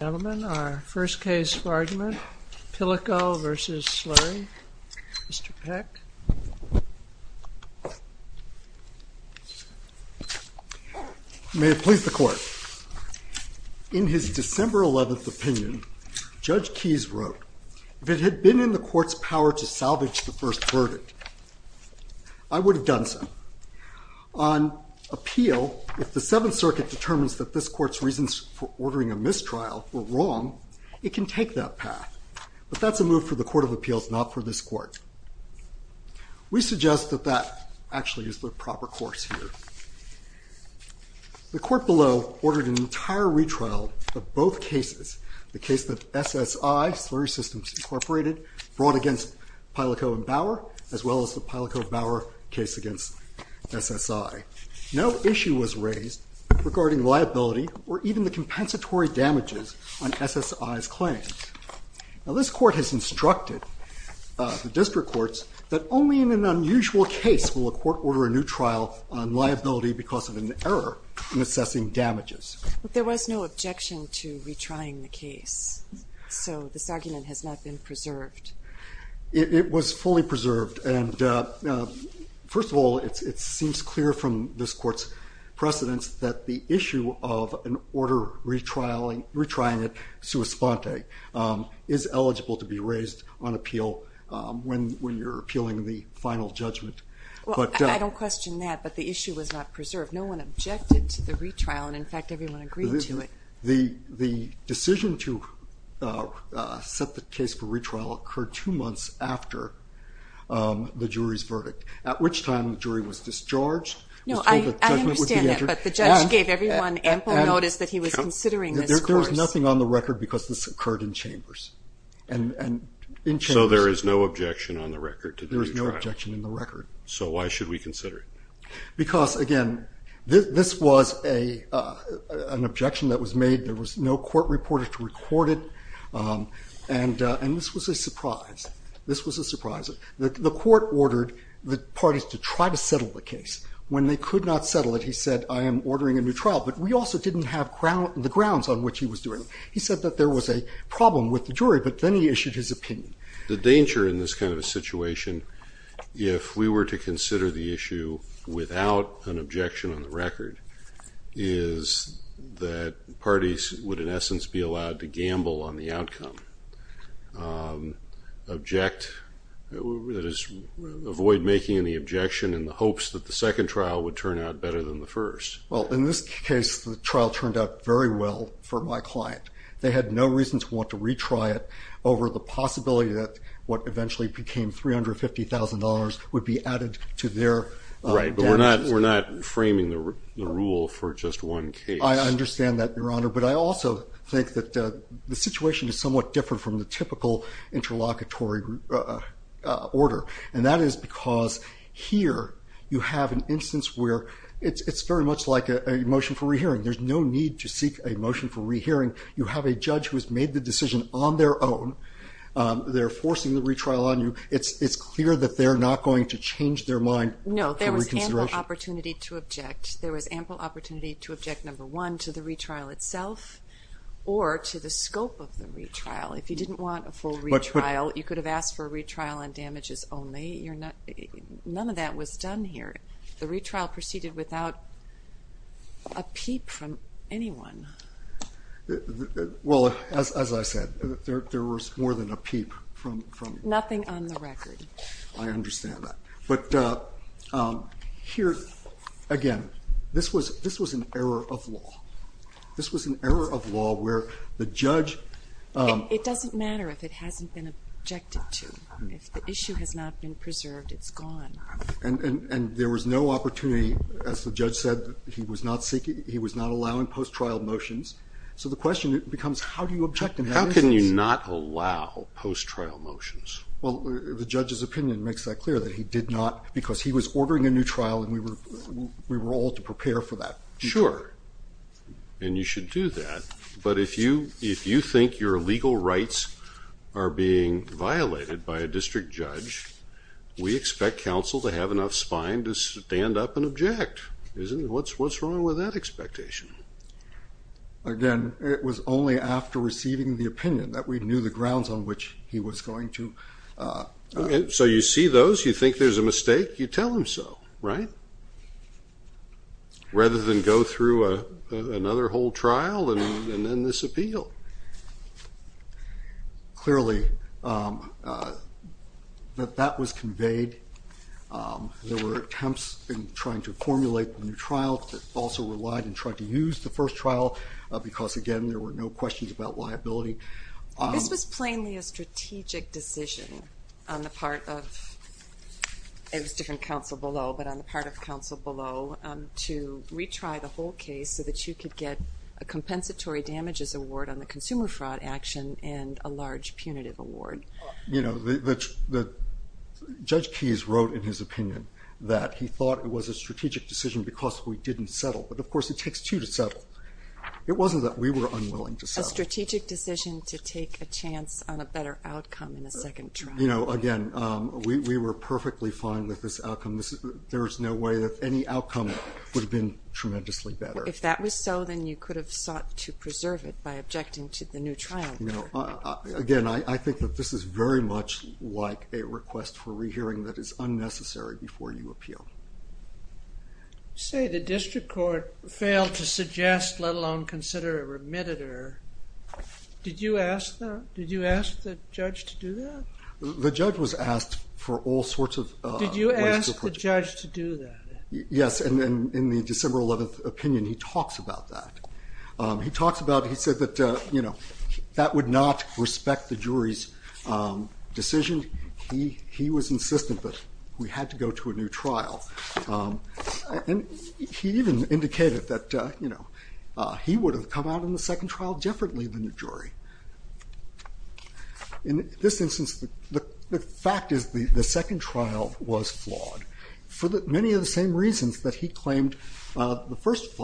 Ladies and gentlemen, our first case for argument, Pileco v. Slurry. Mr. Peck. May it please the Court. In his December 11th opinion, Judge Keyes wrote, if it had been in the Court's power to salvage the first verdict, I would have done so. On appeal, if the Seventh Circuit determines that this Court's reasons for ordering a mistrial were wrong, it can take that path. But that's a move for the Court of Appeals, not for this Court. We suggest that that actually is the proper course here. The Court below ordered an entire retrial of both cases, the case that SSI, Slurry Systems, Inc., fought against Pileco and Bauer, as well as the Pileco-Bauer case against SSI. No issue was raised regarding liability or even the compensatory damages on SSI's claims. Now, this Court has instructed the district courts that only in an unusual case will a court order a new trial on liability because of an error in assessing damages. There was no objection to retrying the case, so this argument has not been preserved. It was fully preserved, and first of all, it seems clear from this Court's precedence that the issue of an order retrying it sua sponte is eligible to be raised on appeal when you're appealing the final judgment. I don't question that, but the issue was not preserved. No one objected to the retrial, and in fact, everyone agreed to it. The decision to set the case for retrial occurred two months after the jury's verdict, at which time the jury was discharged. No, I understand that, but the judge gave everyone ample notice that he was considering this course. There was nothing on the record because this occurred in chambers. So there is no objection on the record to the retrial? There is no objection on the record. So why should we consider it? Because, again, this was an objection that was made. There was no court reporter to record it, and this was a surprise. This was a surprise. The Court ordered the parties to try to settle the case. When they could not settle it, he said, I am ordering a new trial, but we also didn't have the grounds on which he was doing it. He said that there was a problem with the jury, but then he issued his opinion. The danger in this kind of a situation, if we were to consider the issue without an objection on the record, is that parties would, in essence, be allowed to gamble on the outcome, avoid making any objection in the hopes that the second trial would turn out better than the first. Well, in this case, the trial turned out very well for my client. They had no reason to want to retry it over the possibility that what eventually became $350,000 would be added to their damages. Right, but we're not framing the rule for just one case. I understand that, Your Honor, but I also think that the situation is somewhat different from the typical interlocutory order, and that is because here you have an instance where it's very much like a motion for rehearing. There's no need to seek a motion for rehearing. You have a judge who has made the decision on their own. They're forcing the retrial on you. It's clear that they're not going to change their mind for reconsideration. No, there was ample opportunity to object. There was ample opportunity to object, number one, to the retrial itself or to the scope of the retrial. If you didn't want a full retrial, you could have asked for a retrial on damages only. None of that was done here. The retrial proceeded without a peep from anyone. Well, as I said, there was more than a peep from you. Nothing on the record. I understand that. But here, again, this was an error of law. This was an error of law where the judge— It doesn't matter if it hasn't been objected to. If the issue has not been preserved, it's gone. And there was no opportunity, as the judge said, he was not seeking—he was not allowing post-trial motions. So the question becomes, how do you object in that instance? How can you not allow post-trial motions? Well, the judge's opinion makes that clear, that he did not because he was ordering a new trial and we were all to prepare for that. Sure. And you should do that. But if you think your legal rights are being violated by a district judge, we expect counsel to have enough spine to stand up and object. What's wrong with that expectation? Again, it was only after receiving the opinion that we knew the grounds on which he was going to— So you see those. You think there's a mistake. You tell him so, right? Rather than go through another whole trial and then disappeal. Clearly, that was conveyed. There were attempts in trying to formulate a new trial that also relied and tried to use the first trial because, again, there were no questions about liability. This was plainly a strategic decision on the part of—it was different counsel below, but on the part of counsel below to retry the whole case so that you could get a compensatory damages award on the consumer fraud action and a large punitive award. You know, Judge Keyes wrote in his opinion that he thought it was a strategic decision because we didn't settle. But, of course, it takes two to settle. It wasn't that we were unwilling to settle. It was a strategic decision to take a chance on a better outcome in the second trial. You know, again, we were perfectly fine with this outcome. There is no way that any outcome would have been tremendously better. If that was so, then you could have sought to preserve it by objecting to the new trial. Again, I think that this is very much like a request for rehearing that is unnecessary before you appeal. You say the district court failed to suggest, let alone consider, a remittitor. Did you ask the judge to do that? The judge was asked for all sorts of— Did you ask the judge to do that? Yes, and in the December 11th opinion, he talks about that. He talks about—he said that, you know, that would not respect the jury's decision. He was insistent that we had to go to a new trial. He even indicated that, you know, he would have come out in the second trial differently than the jury. In this instance, the fact is the second trial was flawed for many of the same reasons that he claimed the first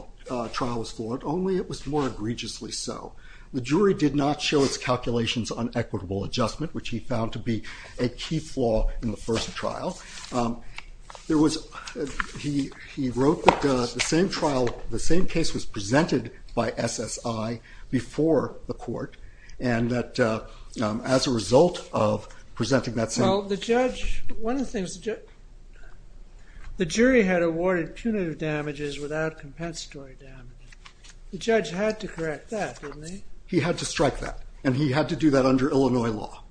trial was flawed, only it was more egregiously so. The jury did not show its calculations on equitable adjustment, which he found to be a key flaw in the first trial. There was—he wrote that the same trial, the same case was presented by SSI before the court, and that as a result of presenting that same— Well, the judge—one of the things—the jury had awarded punitive damages without compensatory damages. The judge had to correct that, didn't he? He had to strike that, and he had to do that under Illinois law.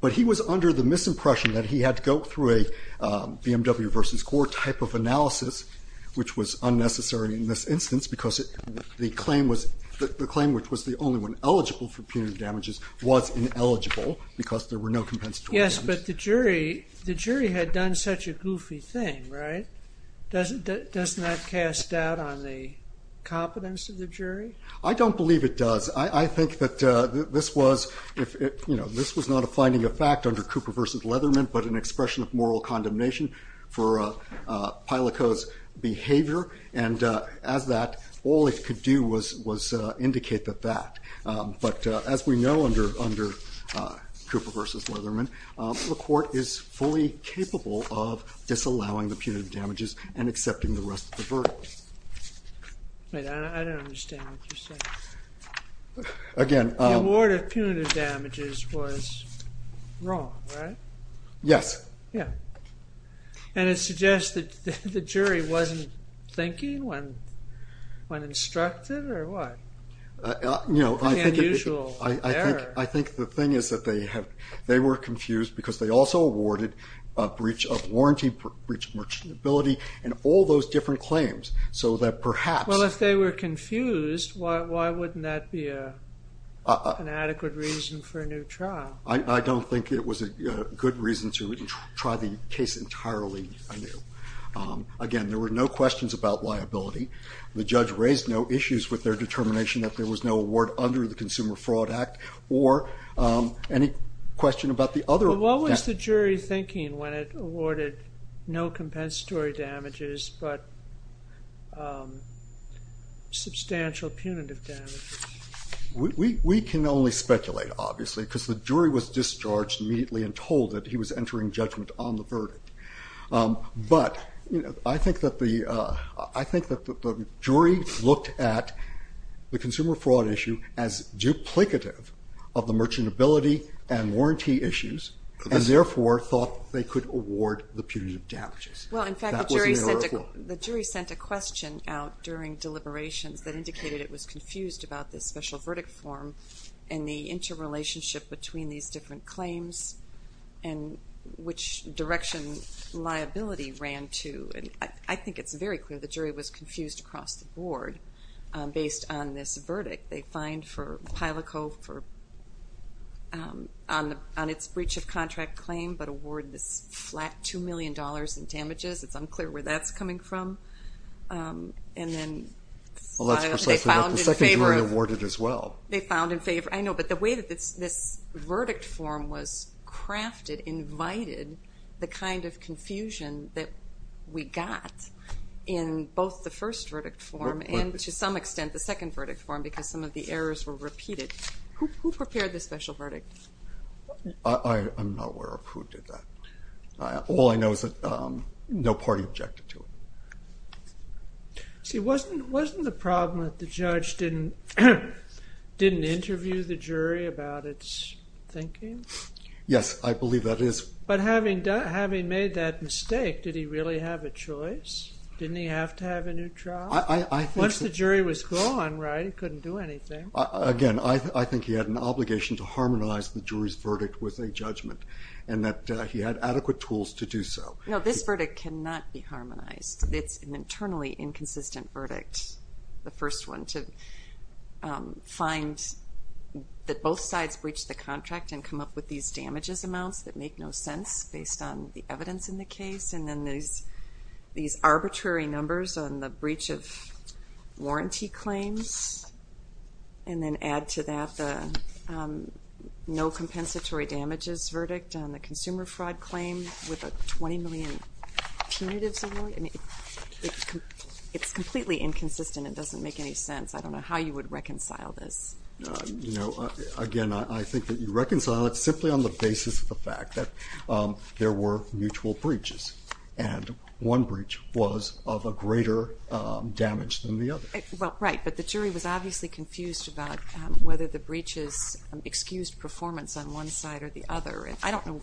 But he was under the misimpression that he had to go through a BMW v. Gore type of analysis, which was unnecessary in this instance because the claim was— the claim which was the only one eligible for punitive damages was ineligible because there were no compensatory damages. Yes, but the jury had done such a goofy thing, right? Doesn't that cast doubt on the competence of the jury? I don't believe it does. I think that this was—you know, this was not a finding of fact under Cooper v. Leatherman, but an expression of moral condemnation for Pilokot's behavior, and as that, all it could do was indicate that fact. But as we know under Cooper v. Leatherman, the court is fully capable of disallowing the punitive damages and accepting the rest of the verdict. Wait, I don't understand what you're saying. Again— The award of punitive damages was wrong, right? Yes. Yeah. And it suggests that the jury wasn't thinking when instructive or what? You know, I think— The unusual error. I think the thing is that they were confused because they also awarded a breach of warranty, breach of merchantability, and all those different claims, so that perhaps— Well, if they were confused, why wouldn't that be an adequate reason for a new trial? I don't think it was a good reason to try the case entirely anew. Again, there were no questions about liability. The judge raised no issues with their determination that there was no award under the Consumer Fraud Act, or any question about the other— But what was the jury thinking when it awarded no compensatory damages but substantial punitive damages? We can only speculate, obviously, because the jury was discharged immediately and told that he was entering judgment on the verdict. But I think that the jury looked at the consumer fraud issue as duplicative of the merchantability and warranty issues, and therefore thought they could award the punitive damages. Well, in fact, the jury sent a question out during deliberations that indicated it was confused about this special verdict form and the interrelationship between these different claims and which direction liability ran to. And I think it's very clear the jury was confused across the board based on this verdict. They fined PILOCO on its breach of contract claim but awarded this flat $2 million in damages. It's unclear where that's coming from. Well, that's precisely what the second jury awarded as well. They found in favor—I know, but the way that this verdict form was crafted invited the kind of confusion that we got in both the first verdict form and, to some extent, the second verdict form because some of the errors were repeated. Who prepared the special verdict? I'm not aware of who did that. All I know is that no party objected to it. See, wasn't the problem that the judge didn't interview the jury about its thinking? Yes, I believe that is— But having made that mistake, did he really have a choice? Didn't he have to have a new trial? Once the jury was gone, right, he couldn't do anything. Again, I think he had an obligation to harmonize the jury's verdict with a judgment and that he had adequate tools to do so. No, this verdict cannot be harmonized. It's an internally inconsistent verdict, the first one, to find that both sides breached the contract and come up with these damages amounts that make no sense based on the evidence in the case and then these arbitrary numbers on the breach of warranty claims and then add to that the no compensatory damages verdict on the consumer fraud claim with a $20 million punitives award. It's completely inconsistent. It doesn't make any sense. I don't know how you would reconcile this. Again, I think that you reconcile it simply on the basis of the fact that there were mutual breaches and one breach was of a greater damage than the other. Well, right, but the jury was obviously confused about whether the breaches excused performance on one side or the other. I don't know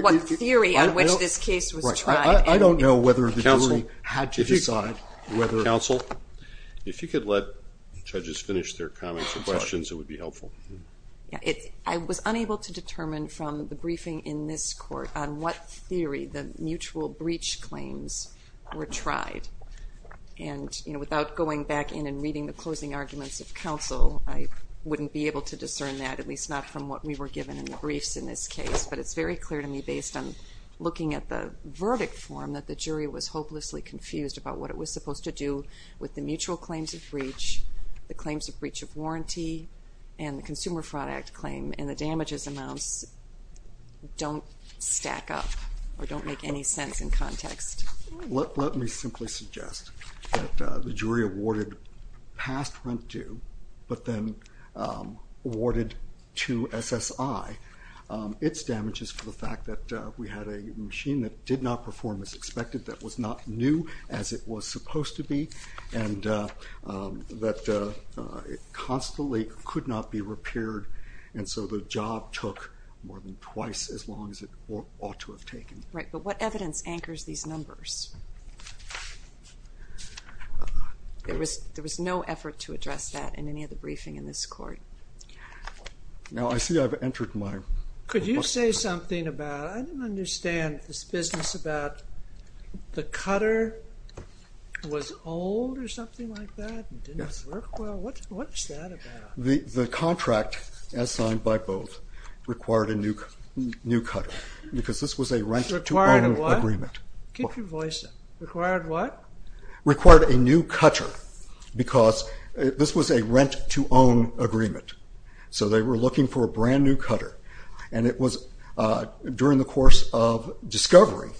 what theory on which this case was tried. I don't know whether the jury had to decide whether... Counsel, if you could let judges finish their comments and questions, it would be helpful. I was unable to determine from the briefing in this court on what theory the mutual breach claims were tried and without going back in and reading the closing arguments of counsel, I wouldn't be able to discern that, at least not from what we were given in the briefs in this case, but it's very clear to me based on looking at the verdict form that the jury was hopelessly confused about what it was supposed to do with the mutual claims of breach, the claims of breach of warranty, and the Consumer Fraud Act claim, and the damages amounts don't stack up or don't make any sense in context. Let me simply suggest that the jury awarded past rent due, but then awarded to SSI, its damages for the fact that we had a machine that did not perform as expected, that was not new as it was supposed to be, and that it constantly could not be repaired, and so the job took more than twice as long as it ought to have taken. Right, but what evidence anchors these numbers? There was no effort to address that in any of the briefing in this court. Now I see I've entered my... Could you say something about, I don't understand this business about the cutter was old or something like that? Yes. What's that about? The contract, as signed by both, required a new cutter because this was a rent-to-own agreement. Required a what? Keep your voice down. Required what? Required a new cutter because this was a rent-to-own agreement, so they were looking for a brand-new cutter, and it was during the course of discovery,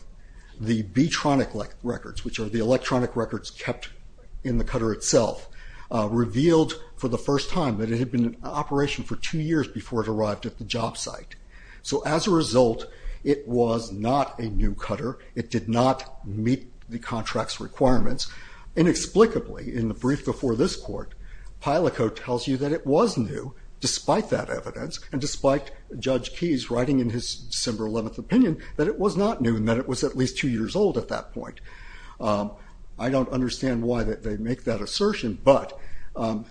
the B-tronic records, which are the electronic records kept in the cutter itself, revealed for the first time that it had been in operation for two years before it arrived at the job site. So as a result, it was not a new cutter. It did not meet the contract's requirements. Inexplicably, in the brief before this court, Pyliko tells you that it was new, despite that evidence and despite Judge Keyes writing in his December 11th opinion that it was not new and that it was at least two years old at that point. I don't understand why they make that assertion, but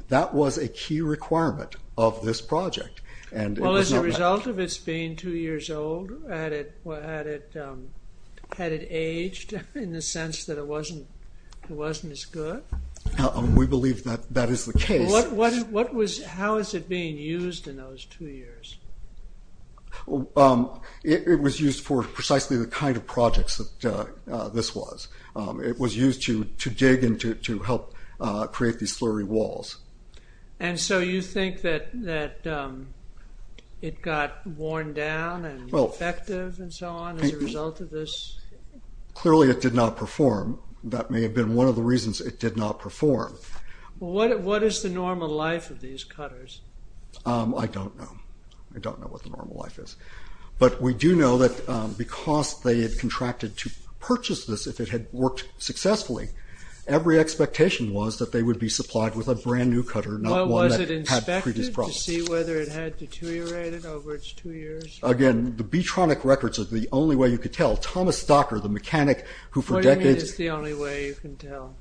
that was a key requirement of this project. Well, as a result of its being two years old, had it aged in the sense that it wasn't as good? We believe that that is the case. How was it being used in those two years? It was used for precisely the kind of projects that this was. It was used to dig and to help create these slurry walls. And so you think that it got worn down and defective and so on as a result of this? Clearly it did not perform. That may have been one of the reasons it did not perform. What is the normal life of these cutters? I don't know. I don't know what the normal life is. But we do know that because they had contracted to purchase this if it had worked successfully, every expectation was that they would be supplied with a brand new cutter, not one that had previous problems. Was it inspected to see whether it had deteriorated over its two years? Again, the B-Tronic records are the only way you could tell. Thomas Stocker, the mechanic who for decades... What do you mean it's the only way you can tell?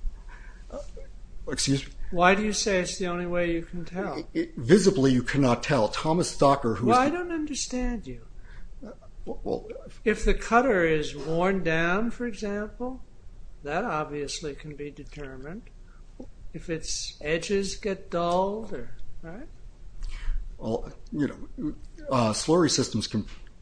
Excuse me? Why do you say it's the only way you can tell? Visibly you cannot tell. Thomas Stocker, who... Well, I don't understand you. If the cutter is worn down, for example, that obviously can be determined. If its edges get dulled, right? Slurry systems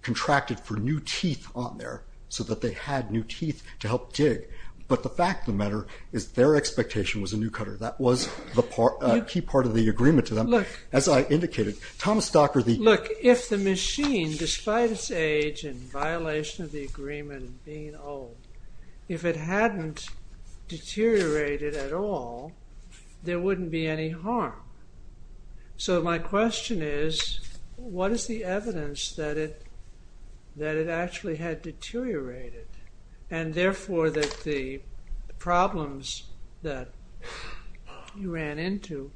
contracted for new teeth on there so that they had new teeth to help dig. But the fact of the matter is their expectation was a new cutter. That was the key part of the agreement to them. As I indicated, Thomas Stocker, the... Look, if the machine, despite its age and violation of the agreement and being old, if it hadn't deteriorated at all, there wouldn't be any harm. So my question is, what is the evidence that it actually had deteriorated and therefore that the problems that you ran into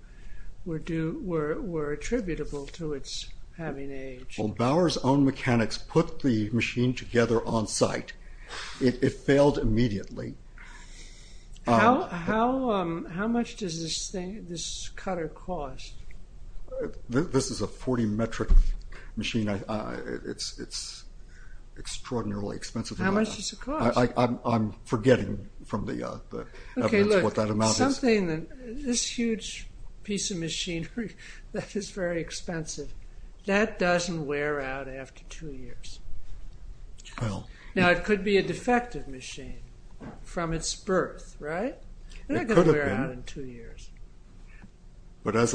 were attributable to its having age? Well, Bauer's own mechanics put the machine together on site. It failed immediately. How much does this cutter cost? This is a 40-metric machine. It's extraordinarily expensive. How much does it cost? I'm forgetting from the evidence what that amount is. Okay, look, this huge piece of machinery that is very expensive, that doesn't wear out after two years. Now, it could be a defective machine from its birth, right? It could have been. It's not going to wear out in two years. But as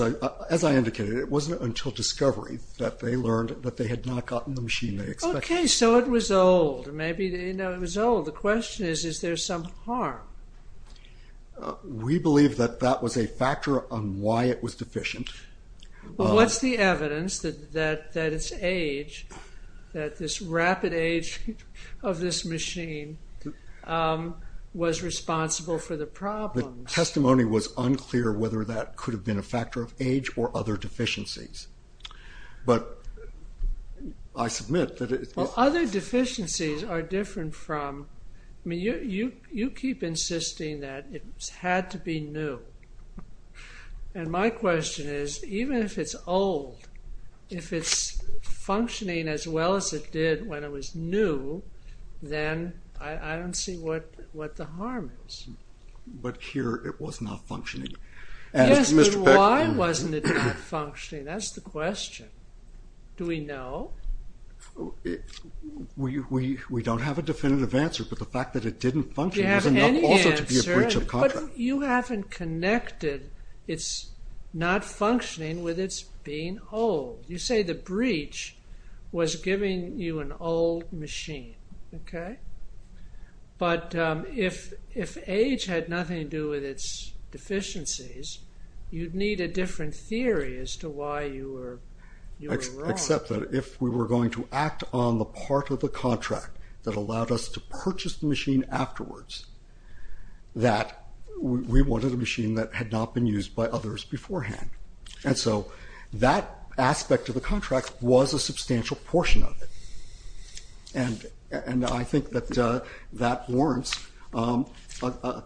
I indicated, it wasn't until discovery that they learned that they had not gotten the machine they expected. Okay, so it was old. Maybe it was old. The question is, is there some harm? We believe that that was a factor on why it was deficient. Well, what's the evidence that its age, that this rapid age of this machine was responsible for the problem? The testimony was unclear whether that could have been a factor of age or other deficiencies. But I submit that it is. Other deficiencies are different from. I mean, you keep insisting that it had to be new. And my question is, even if it's old, if it's functioning as well as it did when it was new, then I don't see what the harm is. But here it was not functioning. Yes, but why wasn't it not functioning? That's the question. Do we know? We don't have a definitive answer, but the fact that it didn't function is enough also to be a breach of contract. But you haven't connected its not functioning with its being old. You say the breach was giving you an old machine, okay? But if age had nothing to do with its deficiencies, you'd need a different theory as to why you were wrong. Except that if we were going to act on the part of the contract that allowed us to purchase the machine afterwards, that we wanted a machine that had not been used by others beforehand. And so that aspect of the contract was a substantial portion of it. And I think that that warrants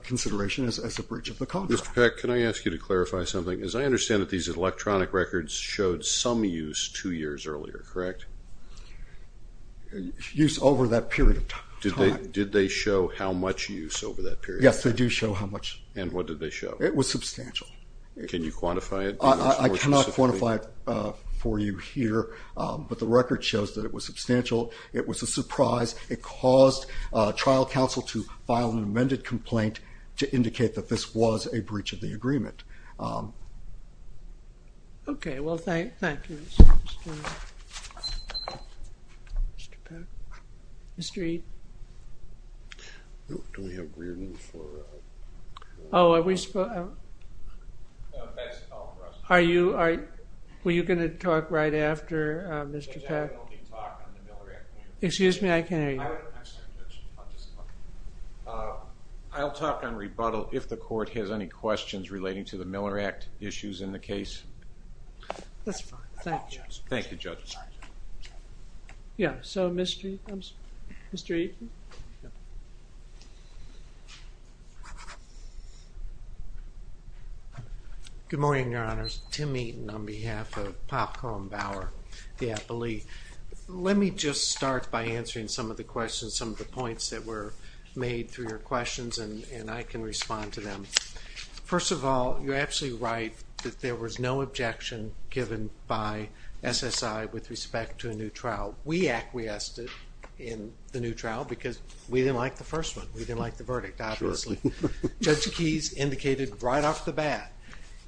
consideration as a breach of the contract. Mr. Peck, can I ask you to clarify something? As I understand it, these electronic records showed some use two years earlier, correct? Use over that period of time. Did they show how much use over that period? Yes, they do show how much. And what did they show? It was substantial. Can you quantify it? I cannot quantify it for you here, but the record shows that it was substantial. It was a surprise. It caused trial counsel to file an amended complaint to indicate that this was a breach of the agreement. Okay. Well, thank you. Mr. Peck. Mr. Eaton. Oh, are we supposed to? Are you going to talk right after, Mr. Peck? Excuse me. I can't hear you. I'll talk on rebuttal if the court has any questions relating to the Miller Act issues in the case. That's fine. Thank you. Thank you, Judge. Yeah. So, Mr. Eaton. Good morning, Your Honors. Tim Eaton on behalf of Pop Column Bauer, the Appellee. Let me just start by answering some of the questions, some of the points that were made through your questions, and I can respond to them. First of all, you're absolutely right that there was no objection given by SSI with respect to a new trial. We acquiesced in the new trial because we didn't like the first one. We didn't like the verdict, obviously. Judge Keyes indicated right off the bat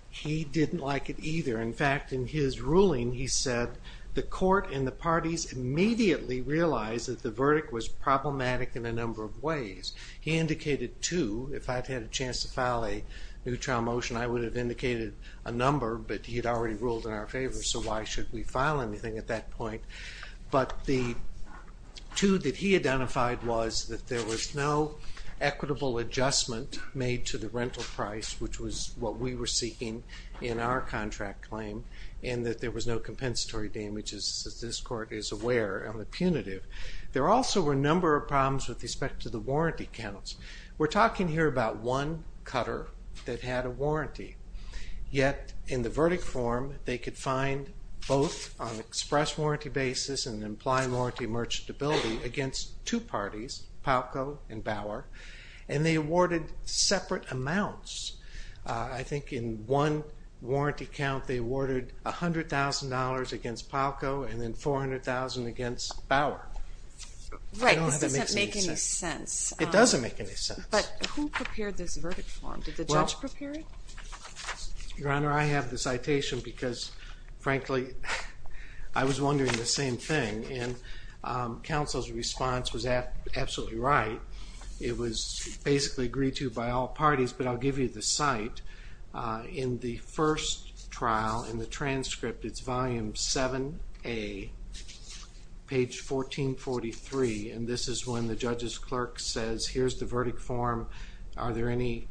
he didn't like it either. In fact, in his ruling he said the court and the parties immediately realized that the verdict was problematic in a number of ways. He indicated two. If I'd had a chance to file a new trial motion, I would have indicated a number, but he had already ruled in our favor, so why should we file anything at that point? But the two that he identified was that there was no equitable adjustment made to the rental price, which was what we were seeking in our contract claim, and that there was no compensatory damages, as this court is aware. I'm a punitive. There also were a number of problems with respect to the warranty counts. We're talking here about one cutter that had a warranty, yet in the verdict form they could find both on express warranty basis and an implied warranty merchantability against two parties, Popco and Bauer, and they awarded separate amounts. I think in one warranty count they awarded $100,000 against Popco and then $400,000 against Bauer. Right, this doesn't make any sense. It doesn't make any sense. But who prepared this verdict form? Did the judge prepare it? Your Honor, I have the citation because, frankly, I was wondering the same thing, and counsel's response was absolutely right. It was basically agreed to by all parties, but I'll give you the cite. In the first trial, in the transcript, it's volume 7A, page 1443, and this is when the judge's clerk says, here's the verdict form. Are there any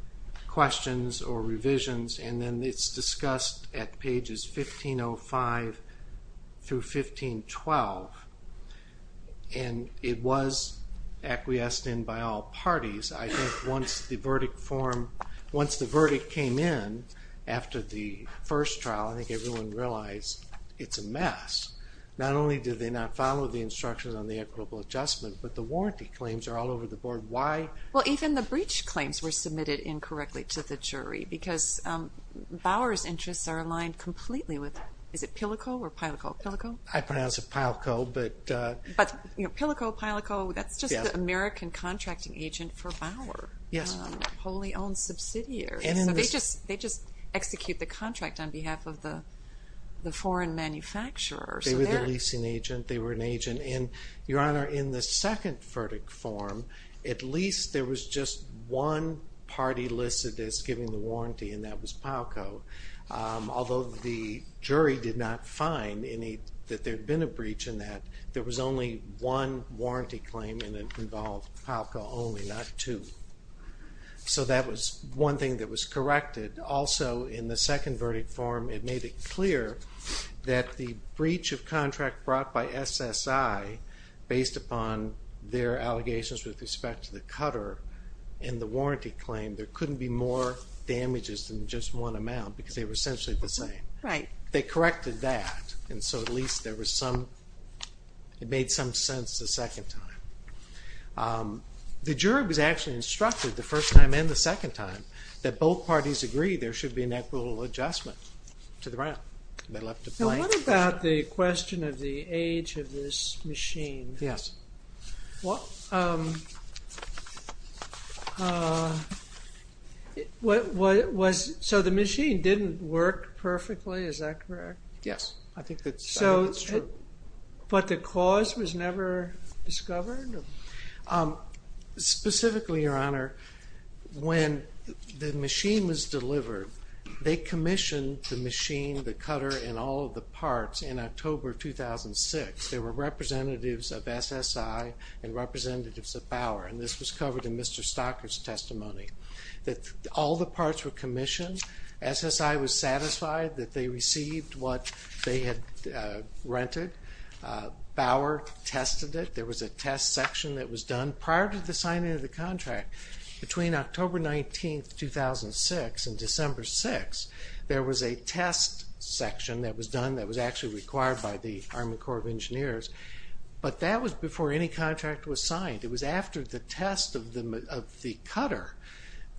questions or revisions? And then it's discussed at pages 1505 through 1512, and it was acquiesced in by all parties. I think once the verdict came in after the first trial, I think everyone realized it's a mess. Not only did they not follow the instructions on the equitable adjustment, but the warranty claims are all over the board. Why? Well, even the breach claims were submitted incorrectly to the jury because Bauer's interests are aligned completely with that. Is it Pilico or Pilico-Pilico? I pronounce it Pilico. But Pilico-Pilico, that's just the American contracting agent for Bauer. Yes. Wholly owned subsidiary. So they just execute the contract on behalf of the foreign manufacturer. They were the leasing agent. They were an agent. And, Your Honor, in the second verdict form, at least there was just one party listed as giving the warranty, and that was Pilico, although the jury did not find that there had been a breach in that. There was only one warranty claim, and it involved Pilico only, not two. So that was one thing that was corrected. Also, in the second verdict form, it made it clear that the breach of contract brought by SSI, based upon their allegations with respect to the cutter in the warranty claim, there couldn't be more damages than just one amount because they were essentially the same. Right. They corrected that, and so at least it made some sense the second time. The jury was actually instructed the first time and the second time that both parties agree there should be an equitable adjustment to the round. They left it blank. Now, what about the question of the age of this machine? Yes. So the machine didn't work perfectly, is that correct? Yes, I think that's true. But the cause was never discovered? Specifically, Your Honor, when the machine was delivered, they commissioned the machine, the cutter, and all of the parts in October 2006. There were representatives of SSI and representatives of Bauer, and this was covered in Mr. Stocker's testimony. All the parts were commissioned. SSI was satisfied that they received what they had rented. Bauer tested it. There was a test section that was done prior to the signing of the contract. Between October 19, 2006 and December 6, there was a test section that was done that was actually required by the Army Corps of Engineers, but that was before any contract was signed. It was after the test of the cutter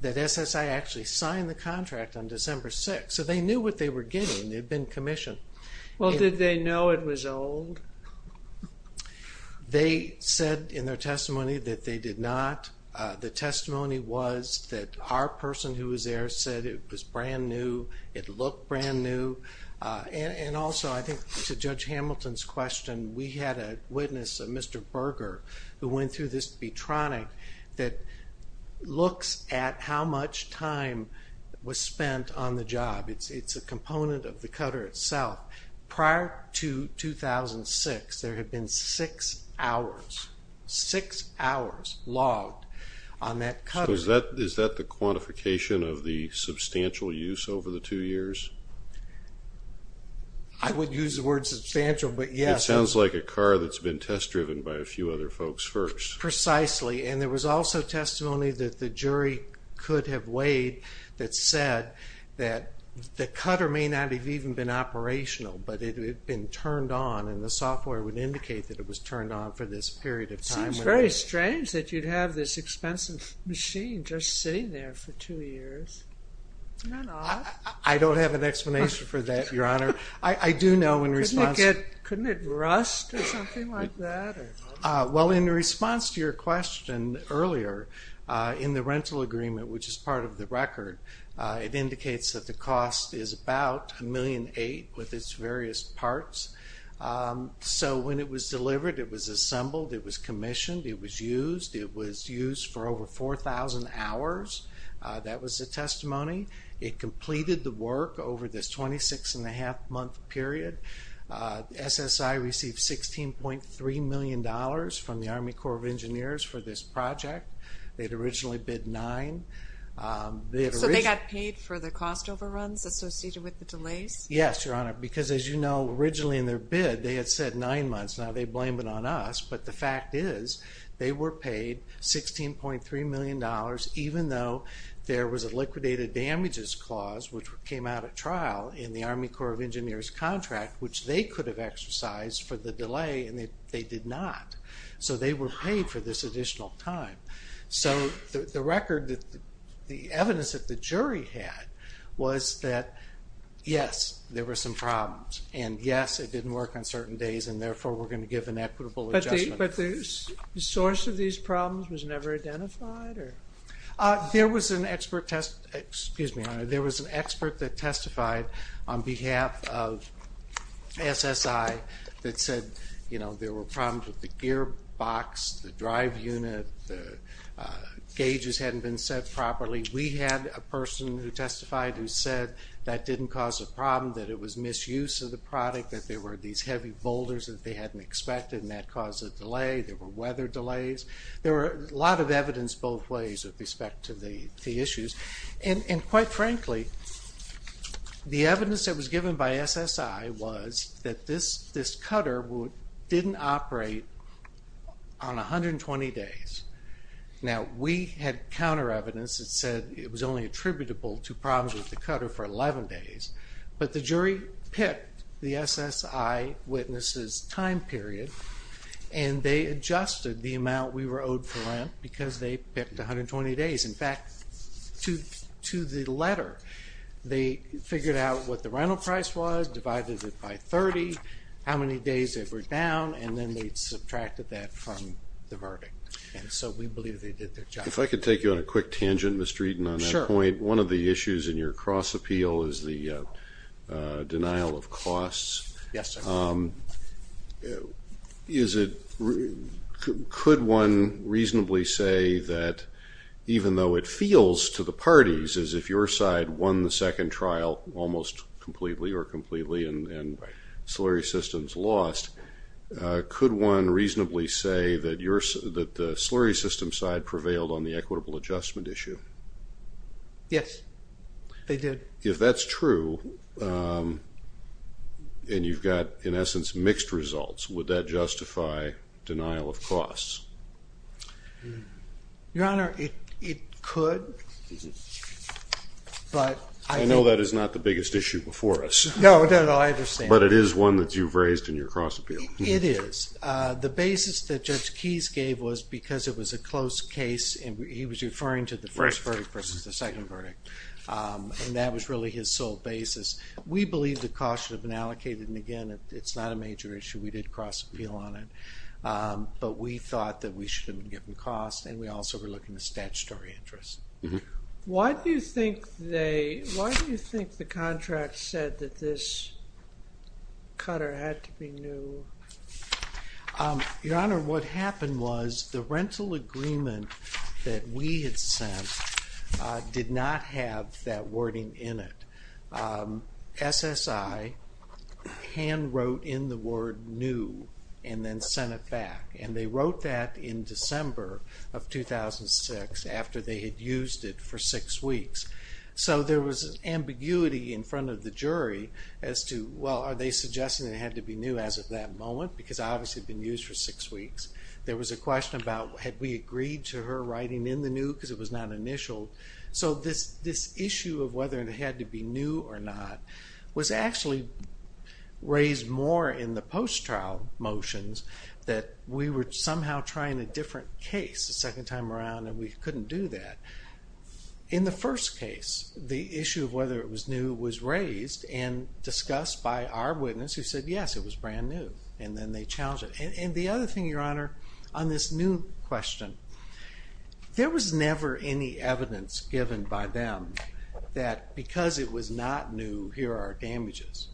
that SSI actually signed the contract on December 6, so they knew what they were getting. They had been commissioned. Well, did they know it was old? They said in their testimony that they did not. The testimony was that our person who was there said it was brand new, it looked brand new. And also, I think to Judge Hamilton's question, we had a witness, Mr. Berger, who went through this betronic that looks at how much time was spent on the job. It's a component of the cutter itself. Prior to 2006, there had been six hours, six hours logged on that cutter. So is that the quantification of the substantial use over the two years? I wouldn't use the word substantial, but yes. It sounds like a car that's been test-driven by a few other folks first. Precisely, and there was also testimony that the jury could have weighed that said that the cutter may not have even been operational, but it had been turned on, and the software would indicate that it was turned on for this period of time. It seems very strange that you'd have this expensive machine just sitting there for two years. Isn't that odd? I don't have an explanation for that, Your Honor. I do know in response. Couldn't it rust or something like that? Well, in response to your question earlier, in the rental agreement, which is part of the record, it indicates that the cost is about $1.8 million with its various parts. So when it was delivered, it was assembled. It was commissioned. It was used. It was used for over 4,000 hours. That was the testimony. It completed the work over this 26-and-a-half-month period. SSI received $16.3 million from the Army Corps of Engineers for this project. They had originally bid nine. So they got paid for the cost overruns associated with the delays? Yes, Your Honor, because as you know, originally in their bid, they had said nine months. Now they blame it on us, but the fact is they were paid $16.3 million even though there was a liquidated damages clause, which came out at trial in the Army Corps of Engineers contract, which they could have exercised for the delay, and they did not. So they were paid for this additional time. So the record, the evidence that the jury had was that, yes, there were some problems, and, yes, it didn't work on certain days, and therefore we're going to give an equitable adjustment. But the source of these problems was never identified? There was an expert that testified on behalf of SSI that said there were problems with the gearbox, the drive unit, the gauges hadn't been set properly. We had a person who testified who said that didn't cause a problem, that it was misuse of the product, that there were these heavy boulders that they hadn't expected, and that caused a delay. There were weather delays. There was a lot of evidence both ways with respect to the issues. And quite frankly, the evidence that was given by SSI was that this cutter didn't operate on 120 days. Now, we had counter evidence that said it was only attributable to problems with the cutter for 11 days. But the jury picked the SSI witnesses' time period, and they adjusted the amount we were owed for rent because they picked 120 days. In fact, to the letter, they figured out what the rental price was, divided it by 30, how many days they were down, and then they subtracted that from the verdict. And so we believe they did their job. If I could take you on a quick tangent, Mr. Eden, on that point. Sure. One of the issues in your cross-appeal is the denial of costs. Yes, sir. Could one reasonably say that even though it feels to the parties as if your side won the second trial almost completely or completely and slurry systems lost, could one reasonably say that the slurry system side prevailed on the equitable adjustment issue? Yes, they did. If that's true, and you've got, in essence, mixed results, would that justify denial of costs? Your Honor, it could. I know that is not the biggest issue before us. No, I understand. But it is one that you've raised in your cross-appeal. It is. The basis that Judge Keyes gave was because it was a close case, and he was referring to the first verdict versus the second verdict, and that was really his sole basis. We believe the costs should have been allocated, and again, it's not a major issue. We did cross-appeal on it, but we thought that we should have been given costs, and we also were looking at statutory interest. Why do you think the contract said that this cutter had to be new? Your Honor, what happened was the rental agreement that we had sent did not have that wording in it. SSI hand-wrote in the word new and then sent it back, and they wrote that in December of 2006 after they had used it for six weeks. So there was ambiguity in front of the jury as to, well, are they suggesting it had to be new as of that moment, because obviously it had been used for six weeks. There was a question about had we agreed to her writing in the new because it was not initial. So this issue of whether it had to be new or not was actually raised more in the post-trial motions that we were somehow trying a different case the second time around, and we couldn't do that. In the first case, the issue of whether it was new was raised and discussed by our witness, who said yes, it was brand new, and then they challenged it. And the other thing, Your Honor, on this new question, there was never any evidence given by them that because it was not new, here are our damages.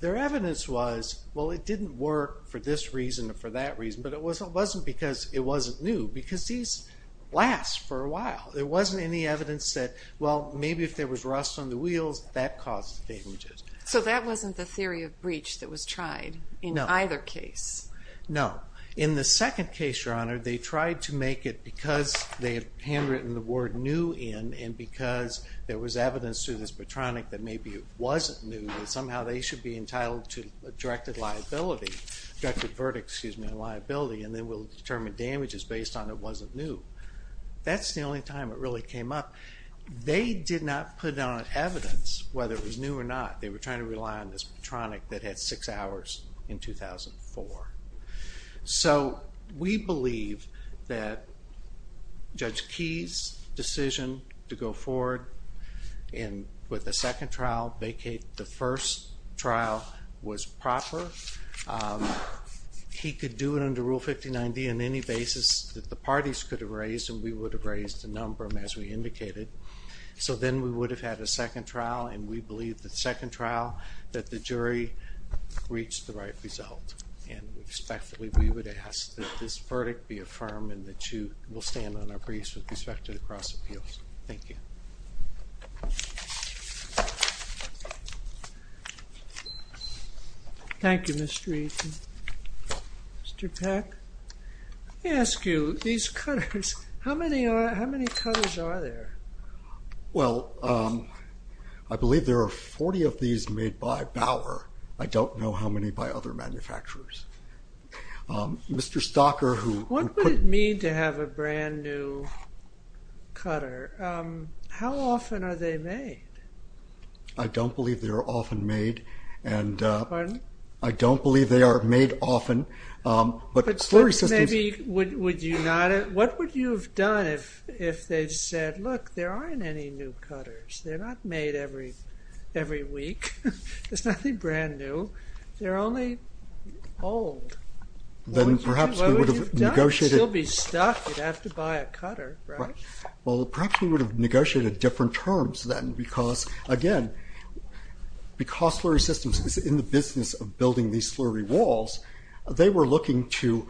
Their evidence was, well, it didn't work for this reason or for that reason, but it wasn't because it wasn't new, because these last for a while. There wasn't any evidence that, well, maybe if there was rust on the wheels, that caused the damages. So that wasn't the theory of breach that was tried in either case? No. In the second case, Your Honor, they tried to make it because they had handwritten the word new in and because there was evidence to this platonic that maybe it wasn't new, that somehow they should be entitled to a directed liability, directed verdict, excuse me, liability, and then we'll determine damages based on it wasn't new. That's the only time it really came up. They did not put down evidence whether it was new or not. They were trying to rely on this platonic that had six hours in 2004. So we believe that Judge Key's decision to go forward and with the second trial vacate the first trial was proper. He could do it under Rule 59D on any basis that the parties could have raised, and we would have raised a number as we indicated. So then we would have had a second trial, and we believe the second trial that the jury reached the right result, and we expect that we would ask that this verdict be affirmed and that you will stand on our briefs with respect to the cross appeals. Thank you. Thank you, Mr. Aitken. Mr. Peck, let me ask you, these cutters, how many cutters are there? Well, I believe there are 40 of these made by Bauer. I don't know how many by other manufacturers. Mr. Stocker, who put- What would it mean to have a brand-new cutter? How often are they made? I don't believe they are often made, and- Pardon? I don't believe they are made often, but the query system- What would you have done if they said, look, there aren't any new cutters. They're not made every week. There's nothing brand new. They're only old. What would you have done? You'd still be stuck. You'd have to buy a cutter, right? Well, perhaps we would have negotiated different terms then because, again, because slurry systems is in the business of building these slurry walls, they were looking to,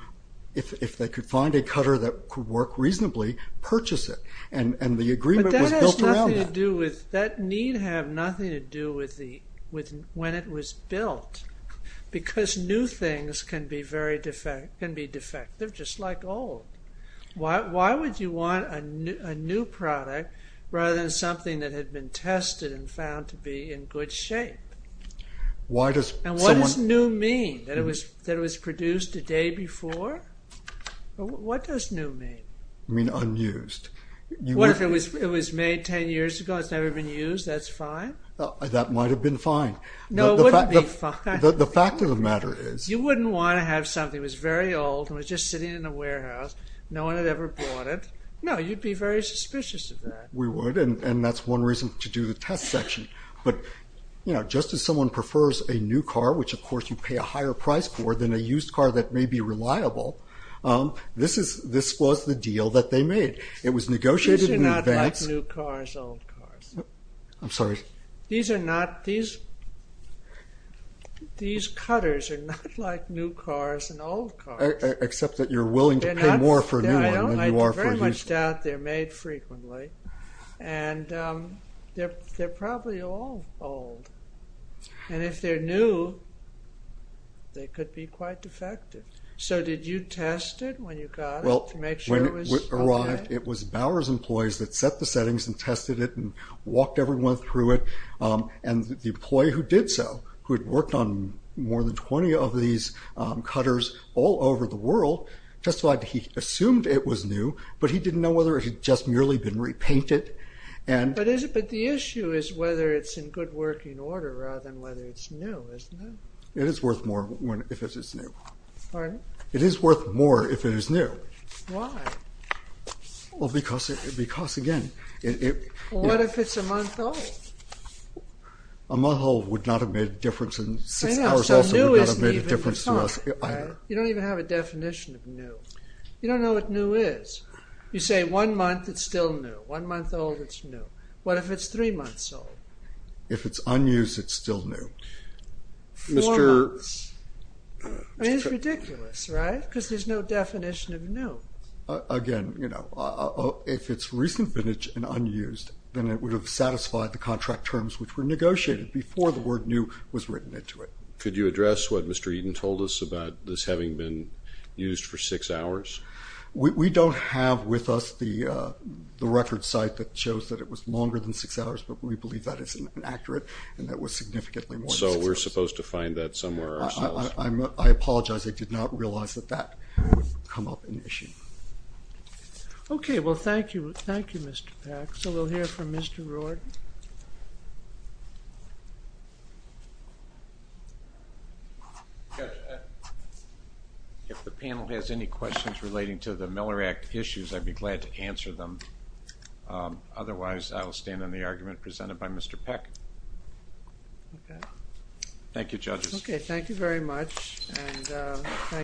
if they could find a cutter that could work reasonably, purchase it, and the agreement was built around that. But that has nothing to do with- That need have nothing to do with when it was built because new things can be defective just like old. Why would you want a new product rather than something that had been tested and found to be in good shape? Why does someone- That it was produced a day before? What does new mean? You mean unused. What if it was made 10 years ago and it's never been used? That's fine? That might have been fine. No, it wouldn't be fine. The fact of the matter is- You wouldn't want to have something that was very old and was just sitting in a warehouse. No one had ever bought it. No, you'd be very suspicious of that. We would, and that's one reason to do the test section. But, you know, just as someone prefers a new car, which, of course, you pay a higher price for than a used car that may be reliable, this was the deal that they made. It was negotiated in advance- These are not like new cars, old cars. I'm sorry? These are not- These cutters are not like new cars and old cars. Except that you're willing to pay more for a new one than you are for a used one. I very much doubt they're made frequently. And they're probably all old. And if they're new, they could be quite defective. So did you test it when you got it to make sure it was okay? Well, when it arrived, it was Bower's employees that set the settings and tested it and walked everyone through it. And the employee who did so, who had worked on more than 20 of these cutters all over the world, testified that he assumed it was new, but he didn't know whether it had just merely been repainted. But the issue is whether it's in good working order rather than whether it's new, isn't it? It is worth more if it is new. Pardon? It is worth more if it is new. Why? Well, because, again- What if it's a month old? A month old would not have made a difference in- I know, so new isn't even the car. You don't even have a definition of new. You don't know what new is. You say one month, it's still new. One month old, it's new. What if it's three months old? If it's unused, it's still new. Four months. I mean, it's ridiculous, right? Because there's no definition of new. Again, you know, if it's recent vintage and unused, then it would have satisfied the contract terms which were negotiated before the word new was written into it. Could you address what Mr. Eden told us about this having been used for six hours? We don't have with us the record site that shows that it was longer than six hours, but we believe that is inaccurate and that was significantly more than six hours. So we're supposed to find that somewhere ourselves? I apologize. I did not realize that that would come up an issue. Okay. Well, thank you. Thank you, Mr. Pack. So we'll hear from Mr. Roard. If the panel has any questions relating to the Miller Act issues, I'd be glad to answer them. Otherwise, I will stand on the argument presented by Mr. Pack. Thank you, judges. Okay. Thank you very much. And thank you.